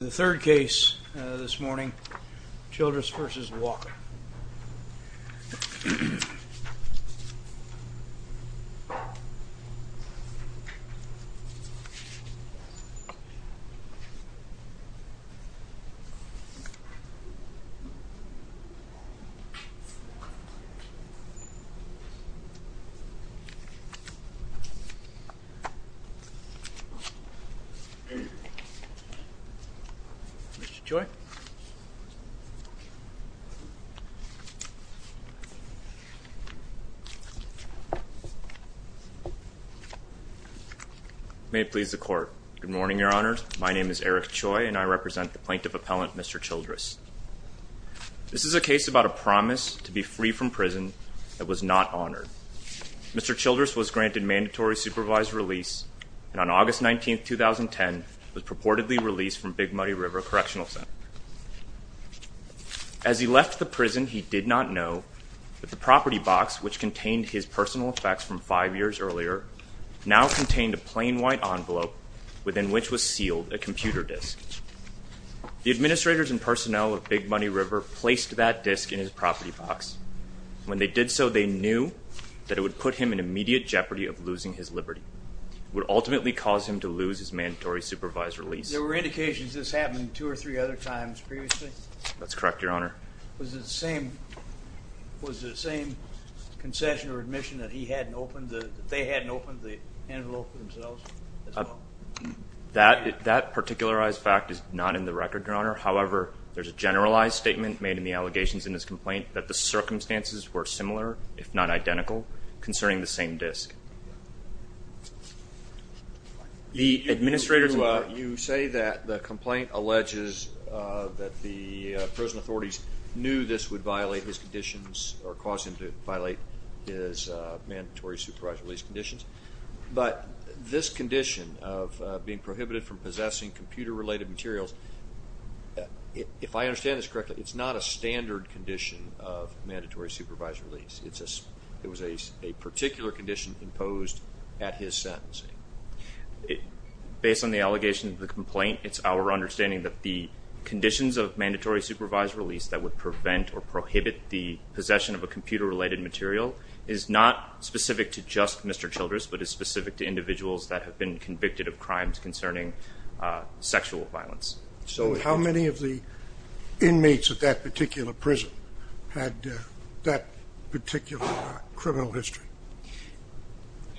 The third case this morning, Childress v. Walker. Mr. Choi. May it please the Court. Good morning, Your Honors. My name is Eric Choi, and I represent the Plaintiff Appellant, Mr. Childress. This is a case about a promise to be free from prison that was not honored. Mr. Childress was granted mandatory supervised release, and on August 19, 2010, was purportedly released from Big Money River Correctional Center. As he left the prison, he did not know that the property box, which contained his personal effects from five years earlier, now contained a plain white envelope within which was sealed a computer disk. The administrators and personnel of Big Money River placed that disk in his property box. When they did so, they knew that it would put him in immediate jeopardy of losing his liberty. It would ultimately cause him to lose his mandatory supervised release. There were indications of this happening two or three other times previously? That's correct, Your Honor. Was it the same concession or admission that they hadn't opened the envelope for themselves? That particularized fact is not in the record, Your Honor. However, there's a generalized statement made in the allegations in this complaint that the circumstances were similar, if not identical, concerning the same disk. You say that the complaint alleges that the prison authorities knew this would violate his conditions or cause him to violate his mandatory supervised release conditions, but this condition of being prohibited from possessing computer-related materials, if I understand this correctly, it's not a standard condition of mandatory supervised release. It was a particular condition imposed at his sentencing. Based on the allegation of the complaint, it's our understanding that the conditions of mandatory supervised release that would prevent or prohibit the possession of a computer-related material is not specific to just Mr. Childress, but is specific to individuals that have been convicted of crimes concerning sexual violence. So how many of the inmates at that particular prison had that particular criminal history?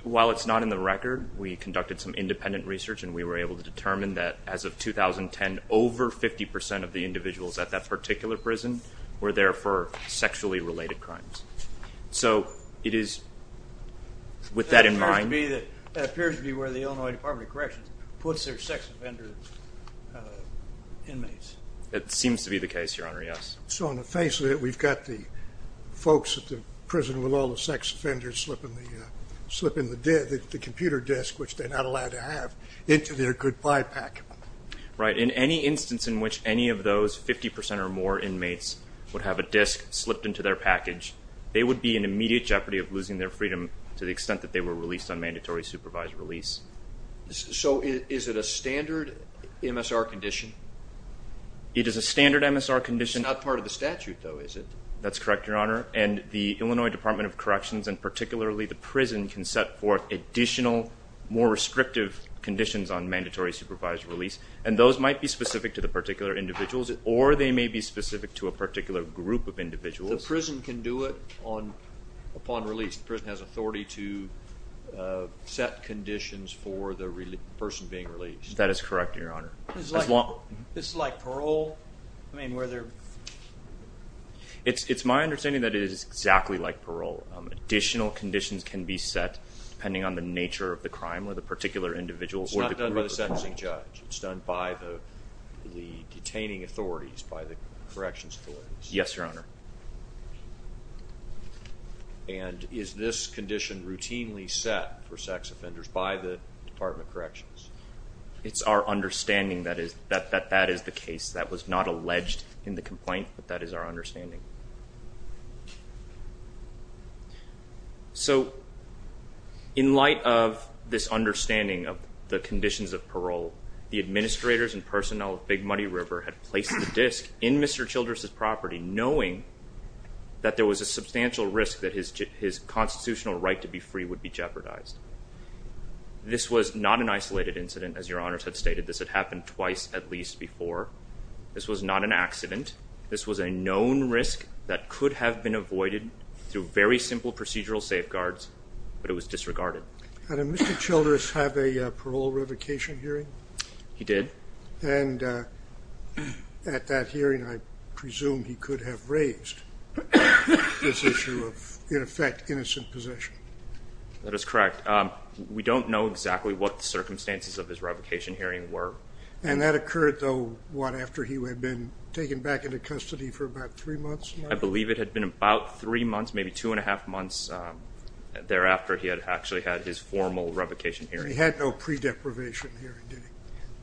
While it's not in the record, we conducted some independent research, and we were able to determine that as of 2010, over 50% of the individuals at that particular prison were there for sexually-related crimes. So it is with that in mind. That appears to be where the Illinois Department of Corrections puts their sex offender inmates. That seems to be the case, Your Honor, yes. So on the face of it, we've got the folks at the prison with all the sex offenders slipping the computer disk, which they're not allowed to have, into their goodbye pack. Right. In any instance in which any of those 50% or more inmates would have a disk slipped into their package, they would be in immediate jeopardy of losing their freedom to the extent that they were released on mandatory supervised release. So is it a standard MSR condition? It is a standard MSR condition. It's not part of the statute, though, is it? That's correct, Your Honor. And the Illinois Department of Corrections, and particularly the prison, can set forth additional more restrictive conditions on mandatory supervised release, and those might be specific to the particular individuals or they may be specific to a particular group of individuals. The prison can do it upon release. The prison has authority to set conditions for the person being released. That is correct, Your Honor. It's like parole? It's my understanding that it is exactly like parole. Additional conditions can be set depending on the nature of the crime or the particular individuals or the group of people. It's not done by the sentencing judge. It's done by the detaining authorities, by the corrections authorities. Yes, Your Honor. And is this condition routinely set for sex offenders by the Department of Corrections? It's our understanding that that is the case. That was not alleged in the complaint, but that is our understanding. So in light of this understanding of the conditions of parole, the administrators and personnel of Big Muddy River had placed the disk in Mr. Childress' property, knowing that there was a substantial risk that his constitutional right to be free would be jeopardized. This was not an isolated incident, as Your Honors had stated. This had happened twice at least before. This was not an accident. This was a known risk that could have been avoided through very simple procedural safeguards, but it was disregarded. Did Mr. Childress have a parole revocation hearing? He did. And at that hearing, I presume he could have raised this issue of, in effect, innocent possession. That is correct. We don't know exactly what the circumstances of his revocation hearing were. And that occurred, though, what, after he had been taken back into custody for about three months? I believe it had been about three months, maybe two-and-a-half months thereafter he had actually had his formal revocation hearing. He had no pre-deprivation hearing, did he?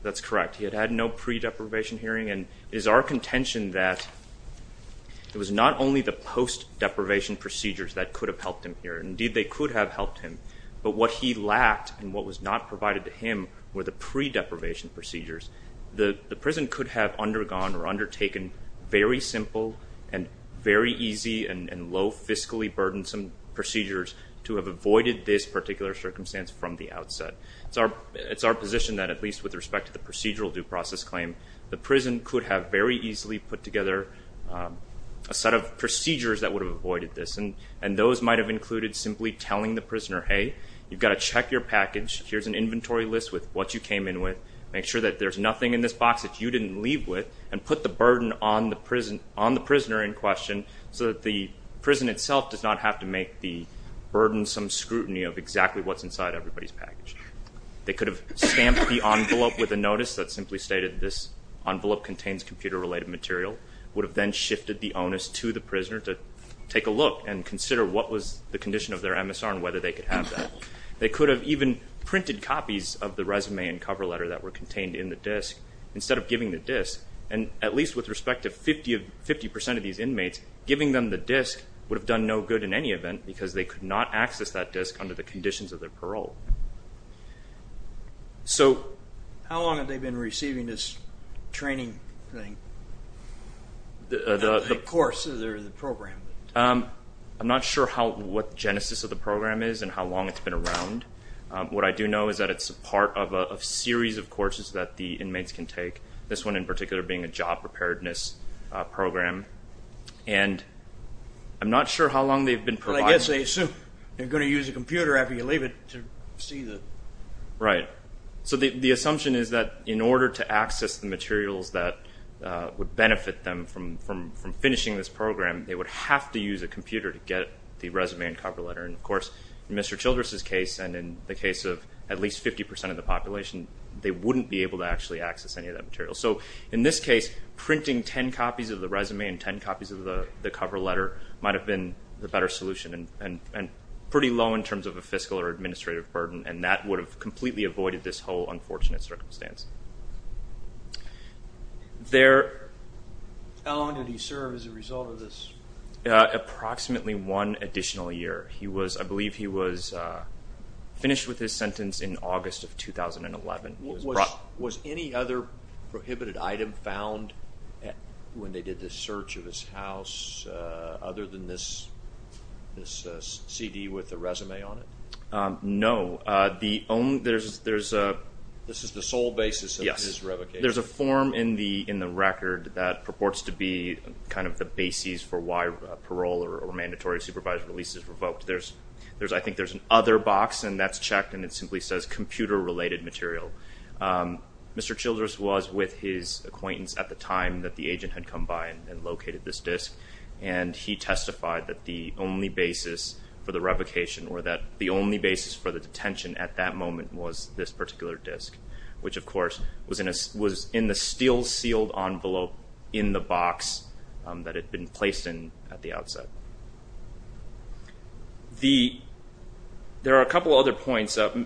That's correct. He had had no pre-deprivation hearing, and it is our contention that it was not only the post-deprivation procedures that could have helped him here. Indeed, they could have helped him, but what he lacked and what was not provided to him were the pre-deprivation procedures. The prison could have undergone or undertaken very simple and very easy and low fiscally burdensome procedures to have avoided this particular circumstance from the outset. It's our position that, at least with respect to the procedural due process claim, the prison could have very easily put together a set of procedures that would have avoided this, and those might have included simply telling the prisoner, hey, you've got to check your package, here's an inventory list with what you came in with, make sure that there's nothing in this box that you didn't leave with, and put the burden on the prisoner in question so that the prison itself does not have to make the burdensome scrutiny of exactly what's inside everybody's package. They could have stamped the envelope with a notice that simply stated, this envelope contains computer-related material, would have then shifted the onus to the prisoner to take a look and consider what was the condition of their MSR and whether they could have that. They could have even printed copies of the resume and cover letter that were contained in the disk instead of giving the disk, and at least with respect to 50% of these inmates, giving them the disk would have done no good in any event because they could not access that disk under the conditions of their parole. So how long have they been receiving this training thing, the courses or the program? I'm not sure what the genesis of the program is and how long it's been around. What I do know is that it's a part of a series of courses that the inmates can take, this one in particular being a job preparedness program, and I'm not sure how long they've been providing it. But I guess they assume they're going to use a computer after you leave it to see the… Right. So the assumption is that in order to access the materials that would benefit them from finishing this program, they would have to use a computer to get the resume and cover letter. And, of course, in Mr. Childress's case and in the case of at least 50% of the population, they wouldn't be able to actually access any of that material. So in this case, printing 10 copies of the resume and 10 copies of the cover letter might have been the better solution and pretty low in terms of a fiscal or administrative burden, and that would have completely avoided this whole unfortunate circumstance. How long did he serve as a result of this? Approximately one additional year. I believe he was finished with his sentence in August of 2011. Was any other prohibited item found when they did this search of his house other than this CD with the resume on it? No. This is the sole basis of his revocation? Yes. There's a form in the record that purports to be kind of the basis for why parole or mandatory supervisory release is revoked. I think there's another box, and that's checked, and it simply says computer-related material. Mr. Childress was with his acquaintance at the time that the agent had come by and located this disc, and he testified that the only basis for the revocation or that the only basis for the detention at that moment was this particular disc, which, of course, was in the steel-sealed envelope in the box that it had been placed in at the outset. There are a couple of other points. So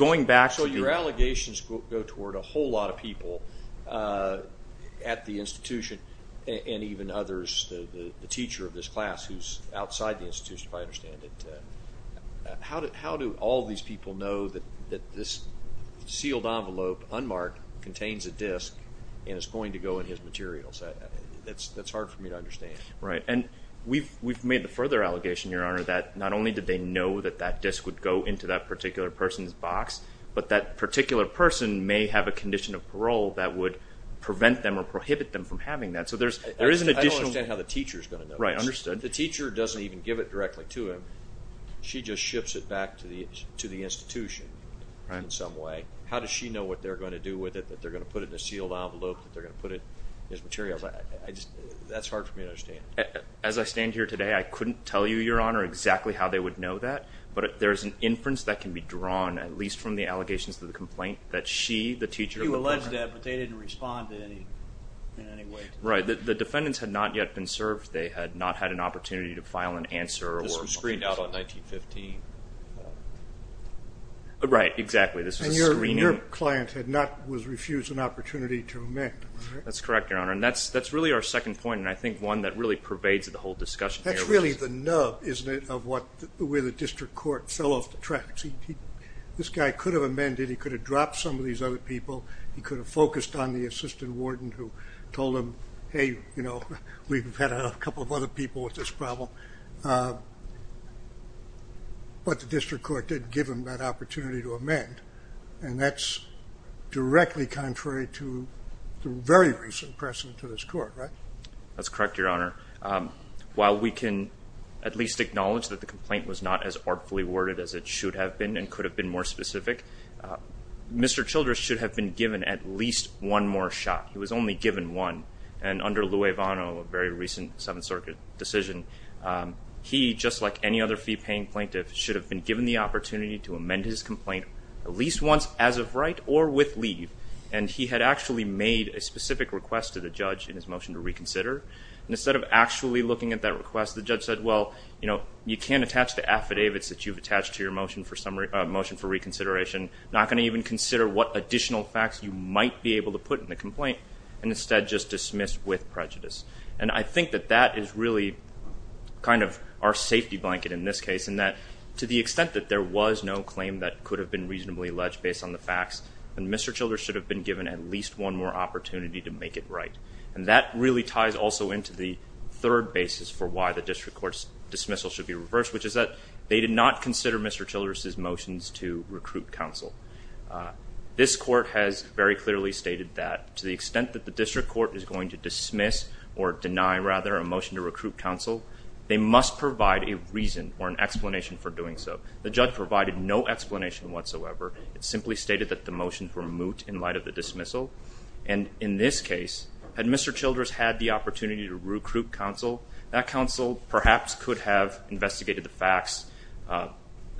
your allegations go toward a whole lot of people at the institution and even others, the teacher of this class who's outside the institution, if I understand it. How do all these people know that this sealed envelope, unmarked, contains a disc and is going to go in his materials? That's hard for me to understand. Right, and we've made the further allegation, Your Honor, that not only did they know that that disc would go into that particular person's box, but that particular person may have a condition of parole that would prevent them or prohibit them from having that. I don't understand how the teacher is going to know this. Right, understood. The teacher doesn't even give it directly to him. She just ships it back to the institution in some way. How does she know what they're going to do with it, that they're going to put it in a sealed envelope, that they're going to put it in his materials? That's hard for me to understand. As I stand here today, I couldn't tell you, Your Honor, exactly how they would know that, but there's an inference that can be drawn, at least from the allegations of the complaint, that she, the teacher of the person... You alleged that, but they didn't respond in any way to that. Right, the defendants had not yet been served. They had not had an opportunity to file an answer. This was screened out on 1915. Right, exactly. This was a screening. And your client had not refused an opportunity to amend. That's correct, Your Honor, and that's really our second point, and I think one that really pervades the whole discussion here. That's really the nub, isn't it, of where the district court fell off the tracks. This guy could have amended. He could have dropped some of these other people. He could have focused on the assistant warden who told him, hey, you know, we've had a couple of other people with this problem. But the district court didn't give him that opportunity to amend, and that's directly contrary to the very recent precedent to this court, right? That's correct, Your Honor. While we can at least acknowledge that the complaint was not as artfully worded as it should have been and could have been more specific, Mr. Childress should have been given at least one more shot. He was only given one, and under Louie Vano, a very recent Seventh Circuit decision, he, just like any other fee-paying plaintiff, should have been given the opportunity to amend his complaint at least once as of right or with leave, and he had actually made a specific request to the judge in his motion to reconsider. Instead of actually looking at that request, the judge said, well, you know, you can't attach the affidavits that you've attached to your motion for reconsideration. I'm not going to even consider what additional facts you might be able to put in the complaint and instead just dismiss with prejudice. And I think that that is really kind of our safety blanket in this case in that to the extent that there was no claim that could have been reasonably alleged based on the facts, then Mr. Childress should have been given at least one more opportunity to make it right, and that really ties also into the third basis for why the district court's dismissal should be reversed, which is that they did not consider Mr. Childress's motions to recruit counsel. This court has very clearly stated that to the extent that the district court is going to dismiss or deny, rather, a motion to recruit counsel, they must provide a reason or an explanation for doing so. The judge provided no explanation whatsoever. It simply stated that the motions were moot in light of the dismissal, and in this case, had Mr. Childress had the opportunity to recruit counsel, that counsel perhaps could have investigated the facts,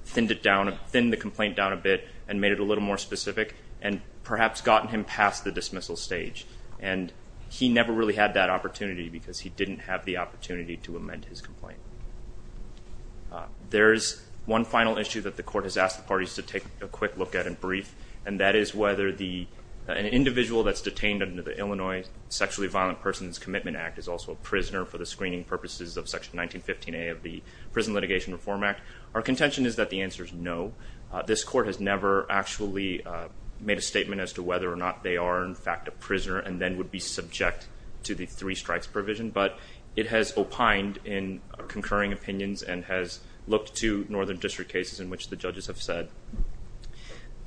thinned the complaint down a bit, and made it a little more specific, and perhaps gotten him past the dismissal stage. And he never really had that opportunity because he didn't have the opportunity to amend his complaint. There is one final issue that the court has asked the parties to take a quick look at and brief, and that is whether an individual that's detained under the Illinois Sexually Violent Persons Commitment Act is also a prisoner for the screening purposes of Section 1915A of the Prison Litigation Reform Act. Our contention is that the answer is no. This court has never actually made a statement as to whether or not they are in fact a prisoner and then would be subject to the three strikes provision, but it has opined in concurring opinions and has looked to northern district cases in which the judges have said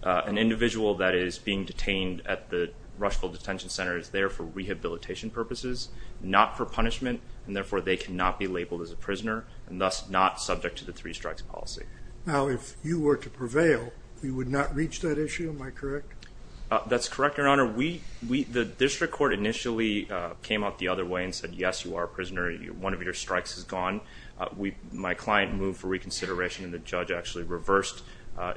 an individual that is being detained at the Rushville Detention Center is there for rehabilitation purposes, not for punishment, and therefore they cannot be labeled as a prisoner, and thus not subject to the three strikes policy. Now, if you were to prevail, you would not reach that issue, am I correct? That's correct, Your Honor. The district court initially came out the other way and said, yes, you are a prisoner. One of your strikes is gone. My client moved for reconsideration, and the judge actually reversed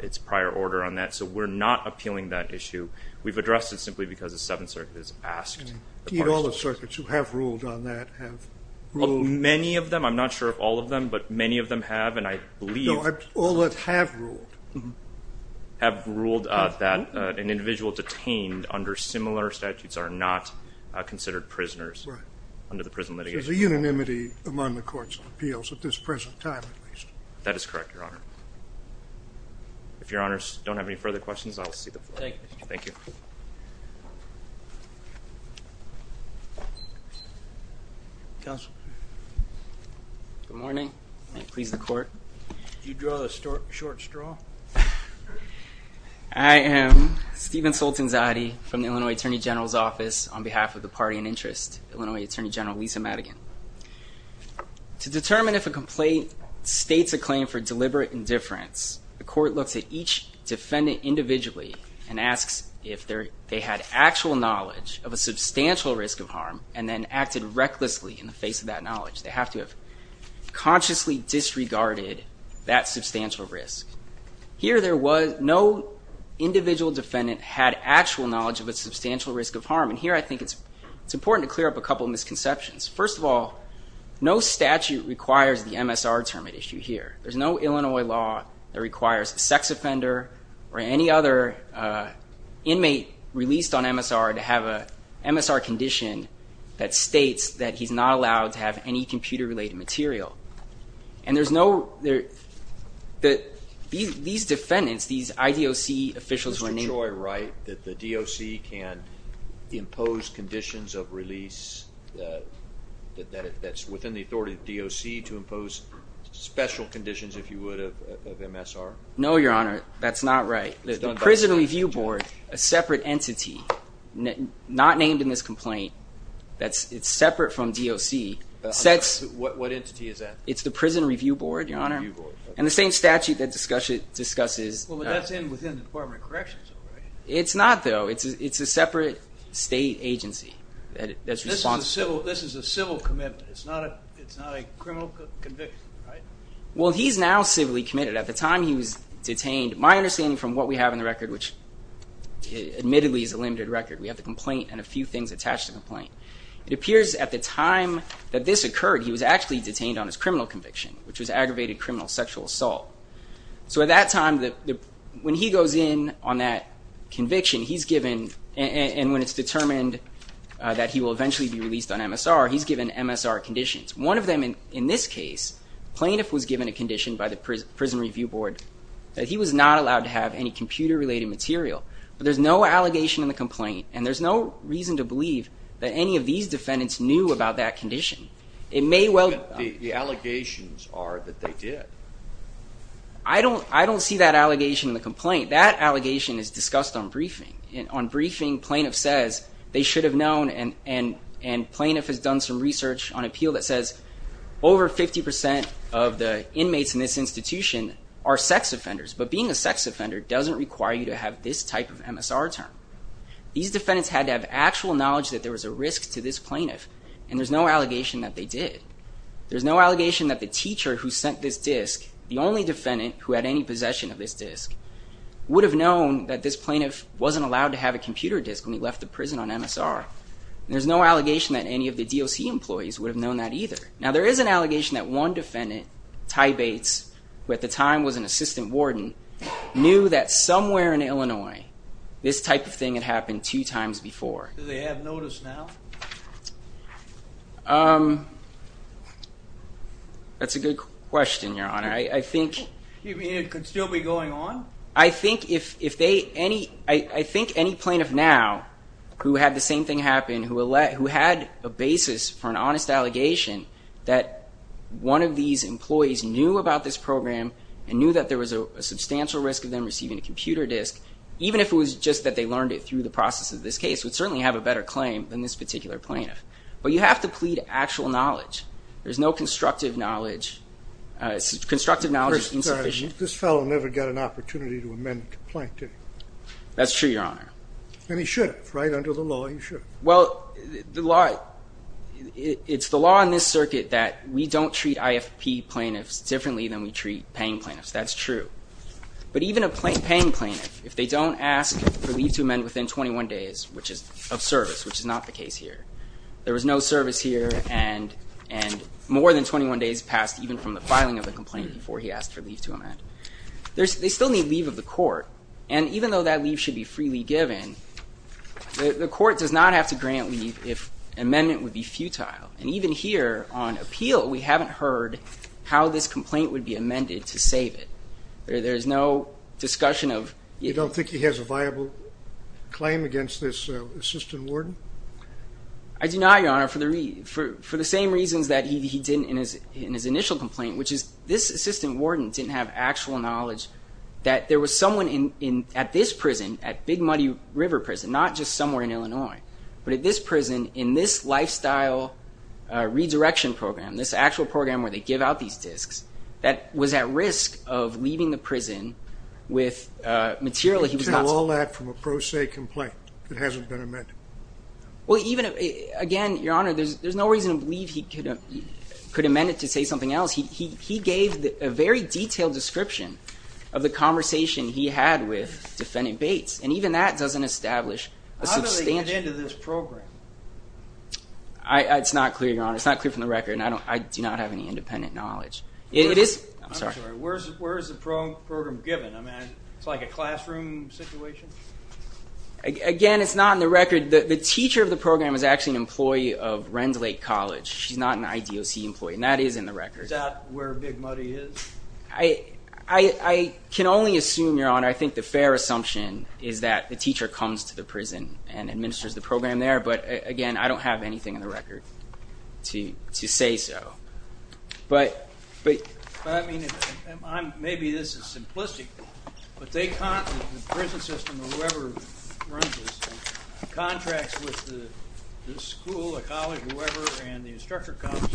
its prior order on that, so we're not appealing that issue. We've addressed it simply because the Seventh Circuit has asked. And all the circuits who have ruled on that have ruled. Many of them. I'm not sure of all of them, but many of them have, and I believe. No, all that have ruled. Have ruled that an individual detained under similar statutes are not considered prisoners. Right. Under the Prison Litigation Reform Act. There's a unanimity among the courts of appeals at this present time, at least. That is correct, Your Honor. If Your Honors don't have any further questions, I will see the floor. Thank you. Thank you. Counsel. Good morning. May it please the Court. Did you draw the short straw? I am Stephen Soltanzade from the Illinois Attorney General's Office on behalf of the party in interest, Illinois Attorney General Lisa Madigan. To determine if a complaint states a claim for deliberate indifference, the court looks at each defendant individually and asks if they had actual knowledge of a substantial risk of harm and then acted recklessly in the face of that knowledge. They have to have consciously disregarded that substantial risk. Here there was no individual defendant had actual knowledge of a substantial risk of harm. And here I think it's important to clear up a couple of misconceptions. First of all, no statute requires the MSR term at issue here. There's no Illinois law that requires a sex offender or any other inmate released on MSR to have an MSR condition that states that he's not allowed to have any computer-related material. And there's no, these defendants, these IDOC officials were named. Mr. Choi, right, that the DOC can impose conditions of release that's within the authority of the DOC to impose special conditions, if you would, of MSR? No, Your Honor, that's not right. The Prison Review Board, a separate entity, not named in this complaint, that's separate from DOC, sets... What entity is that? It's the Prison Review Board, Your Honor. And the same statute that discusses... Well, but that's within the Department of Corrections, though, right? It's not, though. It's a separate state agency that's responsible. This is a civil commitment. It's not a criminal conviction, right? Well, he's now civilly committed. At the time he was detained, my understanding from what we have in the record, which admittedly is a limited record, we have the complaint and a few things attached to the complaint. It appears at the time that this occurred, he was actually detained on his criminal conviction, which was aggravated criminal sexual assault. So at that time, when he goes in on that conviction, he's given... And when it's determined that he will eventually be released on MSR, he's given MSR conditions. One of them, in this case, plaintiff was given a condition by the Prison Review Board that he was not allowed to have any computer-related material. But there's no allegation in the complaint, and there's no reason to believe that any of these defendants knew about that condition. It may well... But the allegations are that they did. I don't see that allegation in the complaint. At this point, that allegation is discussed on briefing. On briefing, plaintiff says they should have known, and plaintiff has done some research on appeal that says over 50% of the inmates in this institution are sex offenders. But being a sex offender doesn't require you to have this type of MSR term. These defendants had to have actual knowledge that there was a risk to this plaintiff, and there's no allegation that they did. There's no allegation that the teacher who sent this disc, the only defendant who had any possession of this disc, would have known that this plaintiff wasn't allowed to have a computer disc when he left the prison on MSR. There's no allegation that any of the DOC employees would have known that either. Now, there is an allegation that one defendant, Ty Bates, who at the time was an assistant warden, knew that somewhere in Illinois this type of thing had happened two times before. Do they have notice now? That's a good question, Your Honor. You mean it could still be going on? I think any plaintiff now who had the same thing happen, who had a basis for an honest allegation that one of these employees knew about this program and knew that there was a substantial risk of them receiving a computer disc, even if it was just that they learned it through the process of this case, would certainly have a better claim than this particular plaintiff. But you have to plead actual knowledge. There's no constructive knowledge. Constructive knowledge is insufficient. This fellow never got an opportunity to amend the complaint, did he? That's true, Your Honor. And he should have, right? Under the law, he should have. Well, it's the law in this circuit that we don't treat IFP plaintiffs differently than we treat paying plaintiffs. That's true. But even a paying plaintiff, if they don't ask for leave to amend within 21 days, which is of service, which is not the case here, there was no service here, and more than 21 days passed even from the filing of the complaint before he asked for leave to amend. They still need leave of the court. And even though that leave should be freely given, the court does not have to grant leave if amendment would be futile. And even here on appeal, we haven't heard how this complaint would be amended to save it. There's no discussion of IFP. Do you think he has a viable claim against this assistant warden? I do not, Your Honor, for the same reasons that he did in his initial complaint, which is this assistant warden didn't have actual knowledge that there was someone at this prison, at Big Muddy River Prison, not just somewhere in Illinois, but at this prison in this lifestyle redirection program, this actual program where they give out these disks, that was at risk of leaving the prison with material that he was not... You can tell all that from a pro se complaint that hasn't been amended. Well, even, again, Your Honor, there's no reason to believe he could amend it to say something else. He gave a very detailed description of the conversation he had with Defendant Bates, and even that doesn't establish a substantial... How did he get into this program? It's not clear, Your Honor. It's not clear from the record. I do not have any independent knowledge. I'm sorry, where is the program given? I mean, it's like a classroom situation? Again, it's not in the record. The teacher of the program is actually an employee of Renslake College. She's not an IDOC employee, and that is in the record. Is that where Big Muddy is? I can only assume, Your Honor, I think the fair assumption is that the teacher comes to the prison and administers the program there, but, again, I don't have anything in the record to say so. But, I mean, maybe this is simplistic, but the prison system, or whoever runs the system, contracts with the school, the college, whoever, and the instructor comes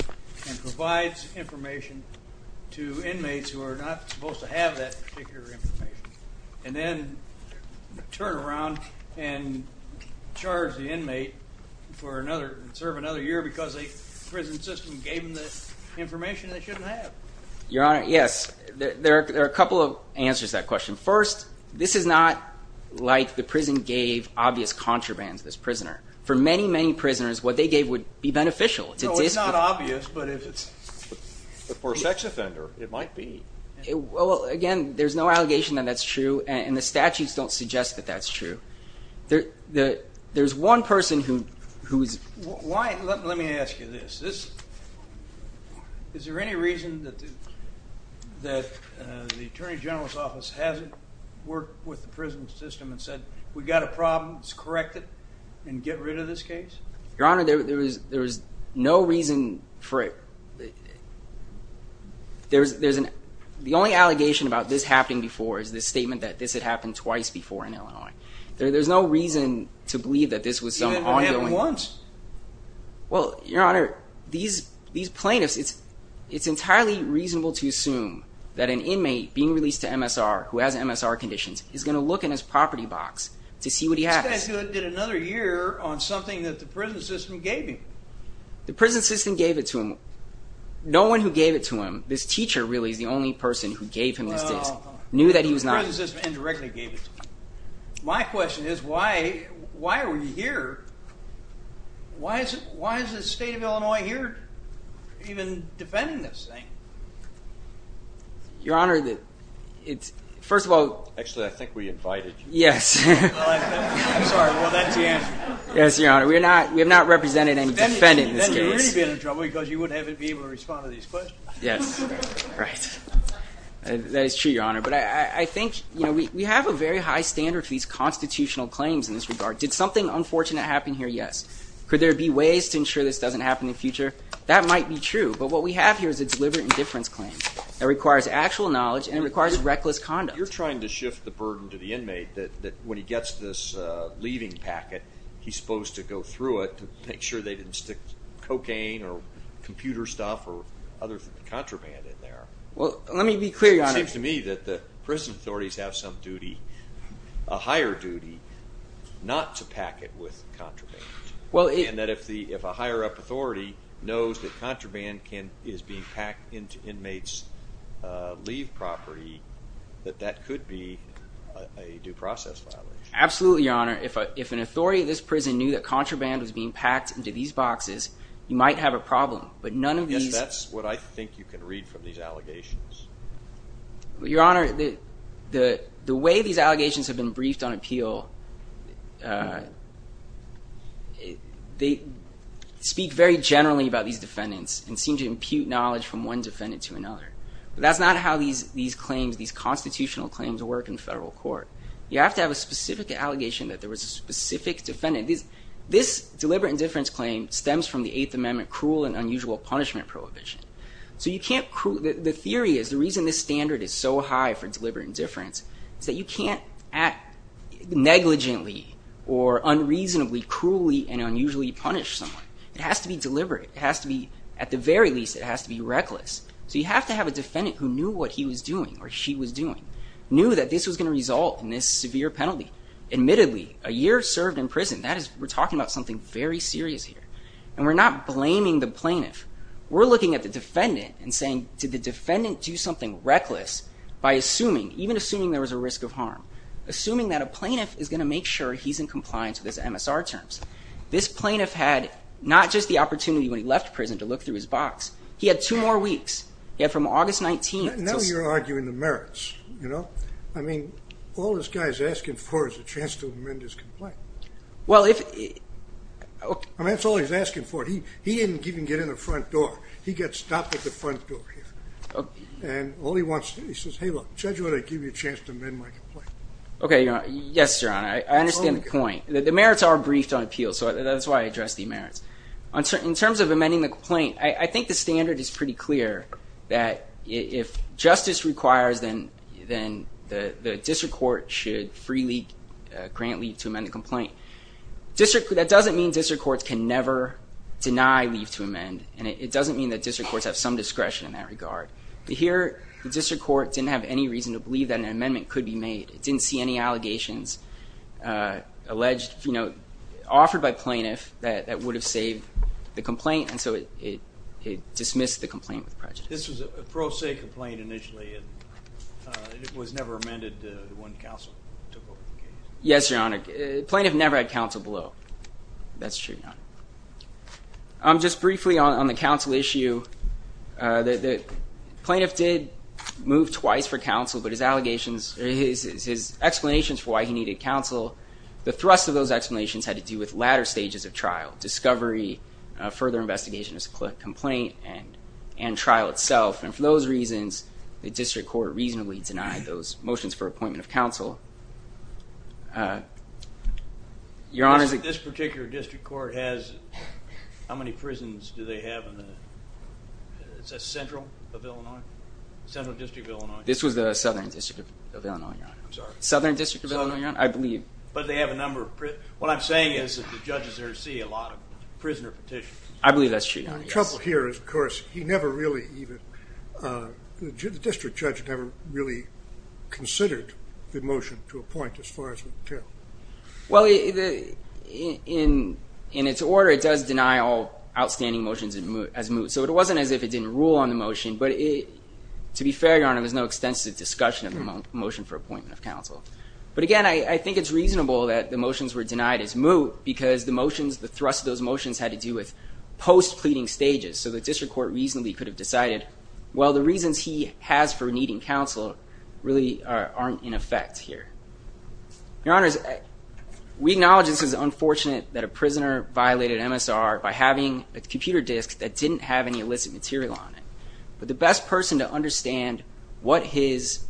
and provides information to inmates who are not supposed to have that particular information and then turn around and charge the inmate and serve another year because the prison system gave them the information they shouldn't have. Your Honor, yes, there are a couple of answers to that question. First, this is not like the prison gave obvious contraband to this prisoner. For many, many prisoners, what they gave would be beneficial. No, it's not obvious, but for a sex offender, it might be. Well, again, there's no allegation that that's true, and the statutes don't suggest that that's true. There's one person who is... Let me ask you this. Is there any reason that the Attorney General's office hasn't worked with the prison system and said, we've got a problem, let's correct it and get rid of this case? Your Honor, there is no reason for it. The only allegation about this happening before is the statement that this had happened twice before in Illinois. There's no reason to believe that this was some ongoing... It happened once. Well, Your Honor, these plaintiffs, it's entirely reasonable to assume that an inmate being released to MSR who has MSR conditions is going to look in his property box to see what he has. This guy did another year on something that the prison system gave him. The prison system gave it to him. No one who gave it to him, this teacher really is the only person who gave him this case. No, no. Knew that he was not... The prison system indirectly gave it to him. My question is, why are we here? Why is the state of Illinois here even defending this thing? Your Honor, it's... First of all... Actually, I think we invited you. Yes. I'm sorry, but that's the answer. Yes, Your Honor. We have not represented any defendant in this case. Then you'd really be in trouble because you wouldn't be able to respond to these questions. Yes. Right. That is true, Your Honor, but I think we have a very high standard for these constitutional claims in this regard. Did something unfortunate happen here? Yes. Could there be ways to ensure this doesn't happen in the future? That might be true, but what we have here is a deliberate indifference claim You're trying to shift the burden to the inmate that when he gets this leaving packet, he's supposed to go through it to make sure they didn't stick cocaine or computer stuff or other contraband in there. Well, let me be clear, Your Honor. It seems to me that the prison authorities have some duty, a higher duty, not to pack it with contraband. And that if a higher up authority knows that contraband is being packed into inmates' leave property, that that could be a due process violation. Absolutely, Your Honor. If an authority of this prison knew that contraband was being packed into these boxes, you might have a problem, but none of these... I guess that's what I think you can read from these allegations. Your Honor, the way these allegations have been briefed on appeal, they speak very generally about these defendants and seem to impute knowledge from one defendant to another. But that's not how these constitutional claims work in federal court. You have to have a specific allegation that there was a specific defendant. This deliberate indifference claim stems from the Eighth Amendment cruel and unusual punishment prohibition. The theory is the reason this standard is so high for deliberate indifference is that you can't negligently or unreasonably, cruelly and unusually punish someone. It has to be deliberate. It has to be, at the very least, it has to be reckless. So you have to have a defendant who knew what he was doing or she was doing, knew that this was going to result in this severe penalty. Admittedly, a year served in prison, we're talking about something very serious here, and we're not blaming the plaintiff. We're looking at the defendant and saying, did the defendant do something reckless by assuming, even assuming there was a risk of harm, assuming that a plaintiff is going to make sure he's in compliance with his MSR terms. This plaintiff had not just the opportunity when he left prison to look through his box. He had two more weeks. He had from August 19th to... Now you're arguing the merits, you know? I mean, all this guy's asking for is a chance to amend his complaint. Well, if... I mean, that's all he's asking for. He didn't even get in the front door. He got stopped at the front door here. And all he wants to do, he says, hey, look, Judge, why don't I give you a chance to amend my complaint? Okay, Your Honor. Yes, Your Honor. I understand the point. The merits are briefed on appeal, so that's why I addressed the merits. In terms of amending the complaint, I think the standard is pretty clear that if justice requires, then the district court should freely grant leave to amend the complaint. That doesn't mean district courts can never deny leave to amend, and it doesn't mean that district courts have some discretion in that regard. Here, the district court didn't have any reason to believe that an amendment could be made. It didn't see any allegations offered by plaintiff that would have saved the complaint, and so it dismissed the complaint with prejudice. This was a pro se complaint initially. It was never amended when counsel took over the case. Yes, Your Honor. Plaintiff never had counsel below. That's true, Your Honor. the plaintiff did move twice for counsel, but his explanations for why he needed counsel, the thrust of those explanations had to do with latter stages of trial, discovery, further investigation of the complaint, and trial itself, and for those reasons, the district court reasonably denied those motions for appointment of counsel. This particular district court has how many prisons do they have in the central district of Illinois? This was the southern district of Illinois, Your Honor. I'm sorry. Southern district of Illinois, Your Honor. I believe. But they have a number of prisons. What I'm saying is that the judges there see a lot of prisoner petitions. I believe that's true, Your Honor. The trouble here is, of course, he never really even, the district judge never really considered the motion to appoint as far as we can tell. Well, in its order, it does deny all outstanding motions as moved, so it wasn't as if it didn't rule on the motion, but to be fair, Your Honor, there's no extensive discussion of the motion for appointment of counsel. But again, I think it's reasonable that the motions were denied as moved because the motions, the thrust of those motions had to do with post-pleading stages, so the district court reasonably could have decided, well, the reasons he has for needing counsel really aren't in effect here. Your Honors, we acknowledge this is unfortunate that a prisoner violated MSR by having a computer disk that didn't have any illicit material on it, but the best person to understand what his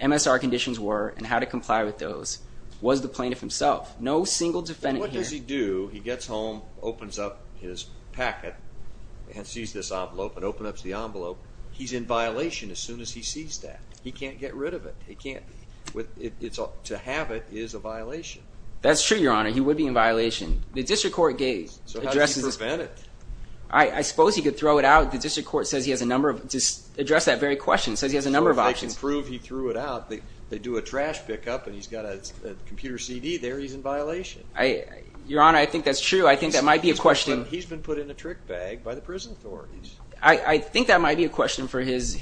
MSR conditions were and how to comply with those was the plaintiff himself. No single defendant here. What does he do? He gets home, opens up his packet, and sees this envelope, and opens up the envelope. He's in violation as soon as he sees that. He can't get rid of it. It can't be. To have it is a violation. That's true, Your Honor. He would be in violation. The district court addresses this. So how does he prevent it? I suppose he could throw it out. The district court says he has a number of options to address that very question. It says he has a number of options. So if they can prove he threw it out, they do a trash pickup, and he's got a computer CD there, he's in violation. Your Honor, I think that's true. I think that might be a question. He's been put in a trick bag by the prison authorities. I think that might be a question for his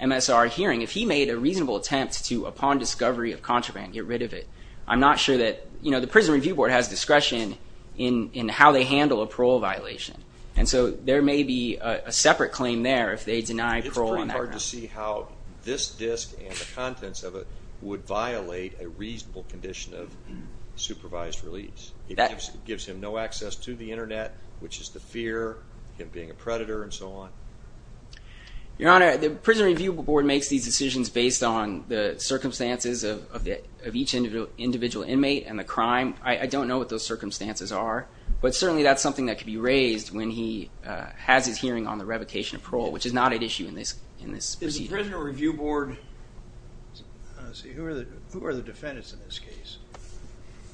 MSR hearing. If he made a reasonable attempt to, upon discovery of contraband, get rid of it, I'm not sure that the Prison Review Board has discretion in how they handle a parole violation. And so there may be a separate claim there if they deny parole on that ground. It's pretty hard to see how this disc and the contents of it would violate a reasonable condition of supervised release. It gives him no access to the Internet, which is the fear of him being a predator and so on. Your Honor, the Prison Review Board makes these decisions based on the circumstances of each individual inmate and the crime. I don't know what those circumstances are. But certainly that's something that could be raised when he has his hearing on the revocation of parole, which is not at issue in this procedure. Is the Prison Review Board, let's see, who are the defendants in this case?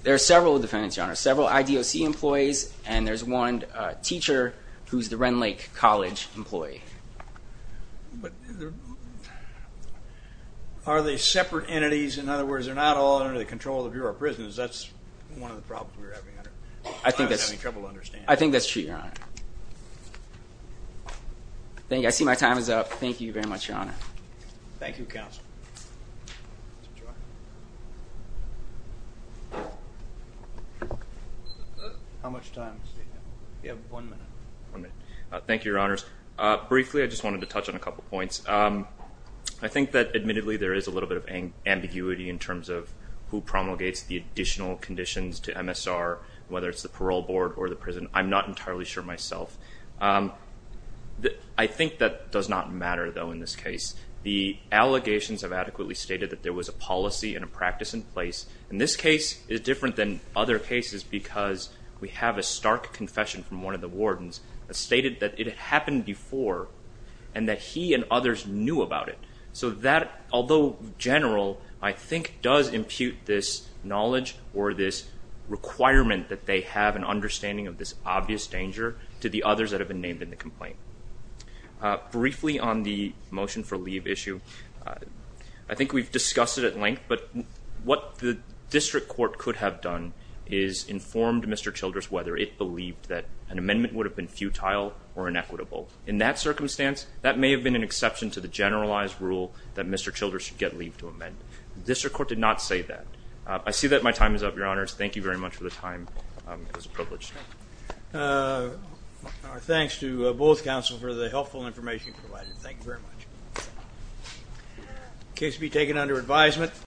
There are several defendants, Your Honor, several IDOC employees, and there's one teacher who's the Renlake College employee. But are they separate entities? In other words, they're not all under the control of your prisons. That's one of the problems we're having. I'm having trouble understanding. I think that's true, Your Honor. I see my time is up. Thank you very much, Your Honor. Thank you, Counsel. How much time? You have one minute. Thank you, Your Honors. Briefly, I just wanted to touch on a couple points. I think that admittedly there is a little bit of ambiguity in terms of who promulgates the additional conditions to MSR, whether it's the parole board or the prison. I'm not entirely sure myself. I think that does not matter, though, in this case. The allegations have adequately stated that there was a policy and a practice in place. And this case is different than other cases because we have a stark confession from one of the wardens that stated that it had happened before and that he and others knew about it. So that, although general, I think does impute this knowledge or this requirement that they have an understanding of this obvious danger to the others that have been named in the complaint. Briefly on the motion for leave issue, I think we've discussed it at length, but what the district court could have done is informed Mr. Childress whether it believed that an amendment would have been futile or inequitable. In that circumstance, that may have been an exception to the generalized rule that Mr. Childress should get leave to amend. The district court did not say that. I see that my time is up, Your Honors. Thank you very much for the time. It was a privilege. Thanks to both counsel for the helpful information you provided. Thank you very much. The case will be taken under advisement.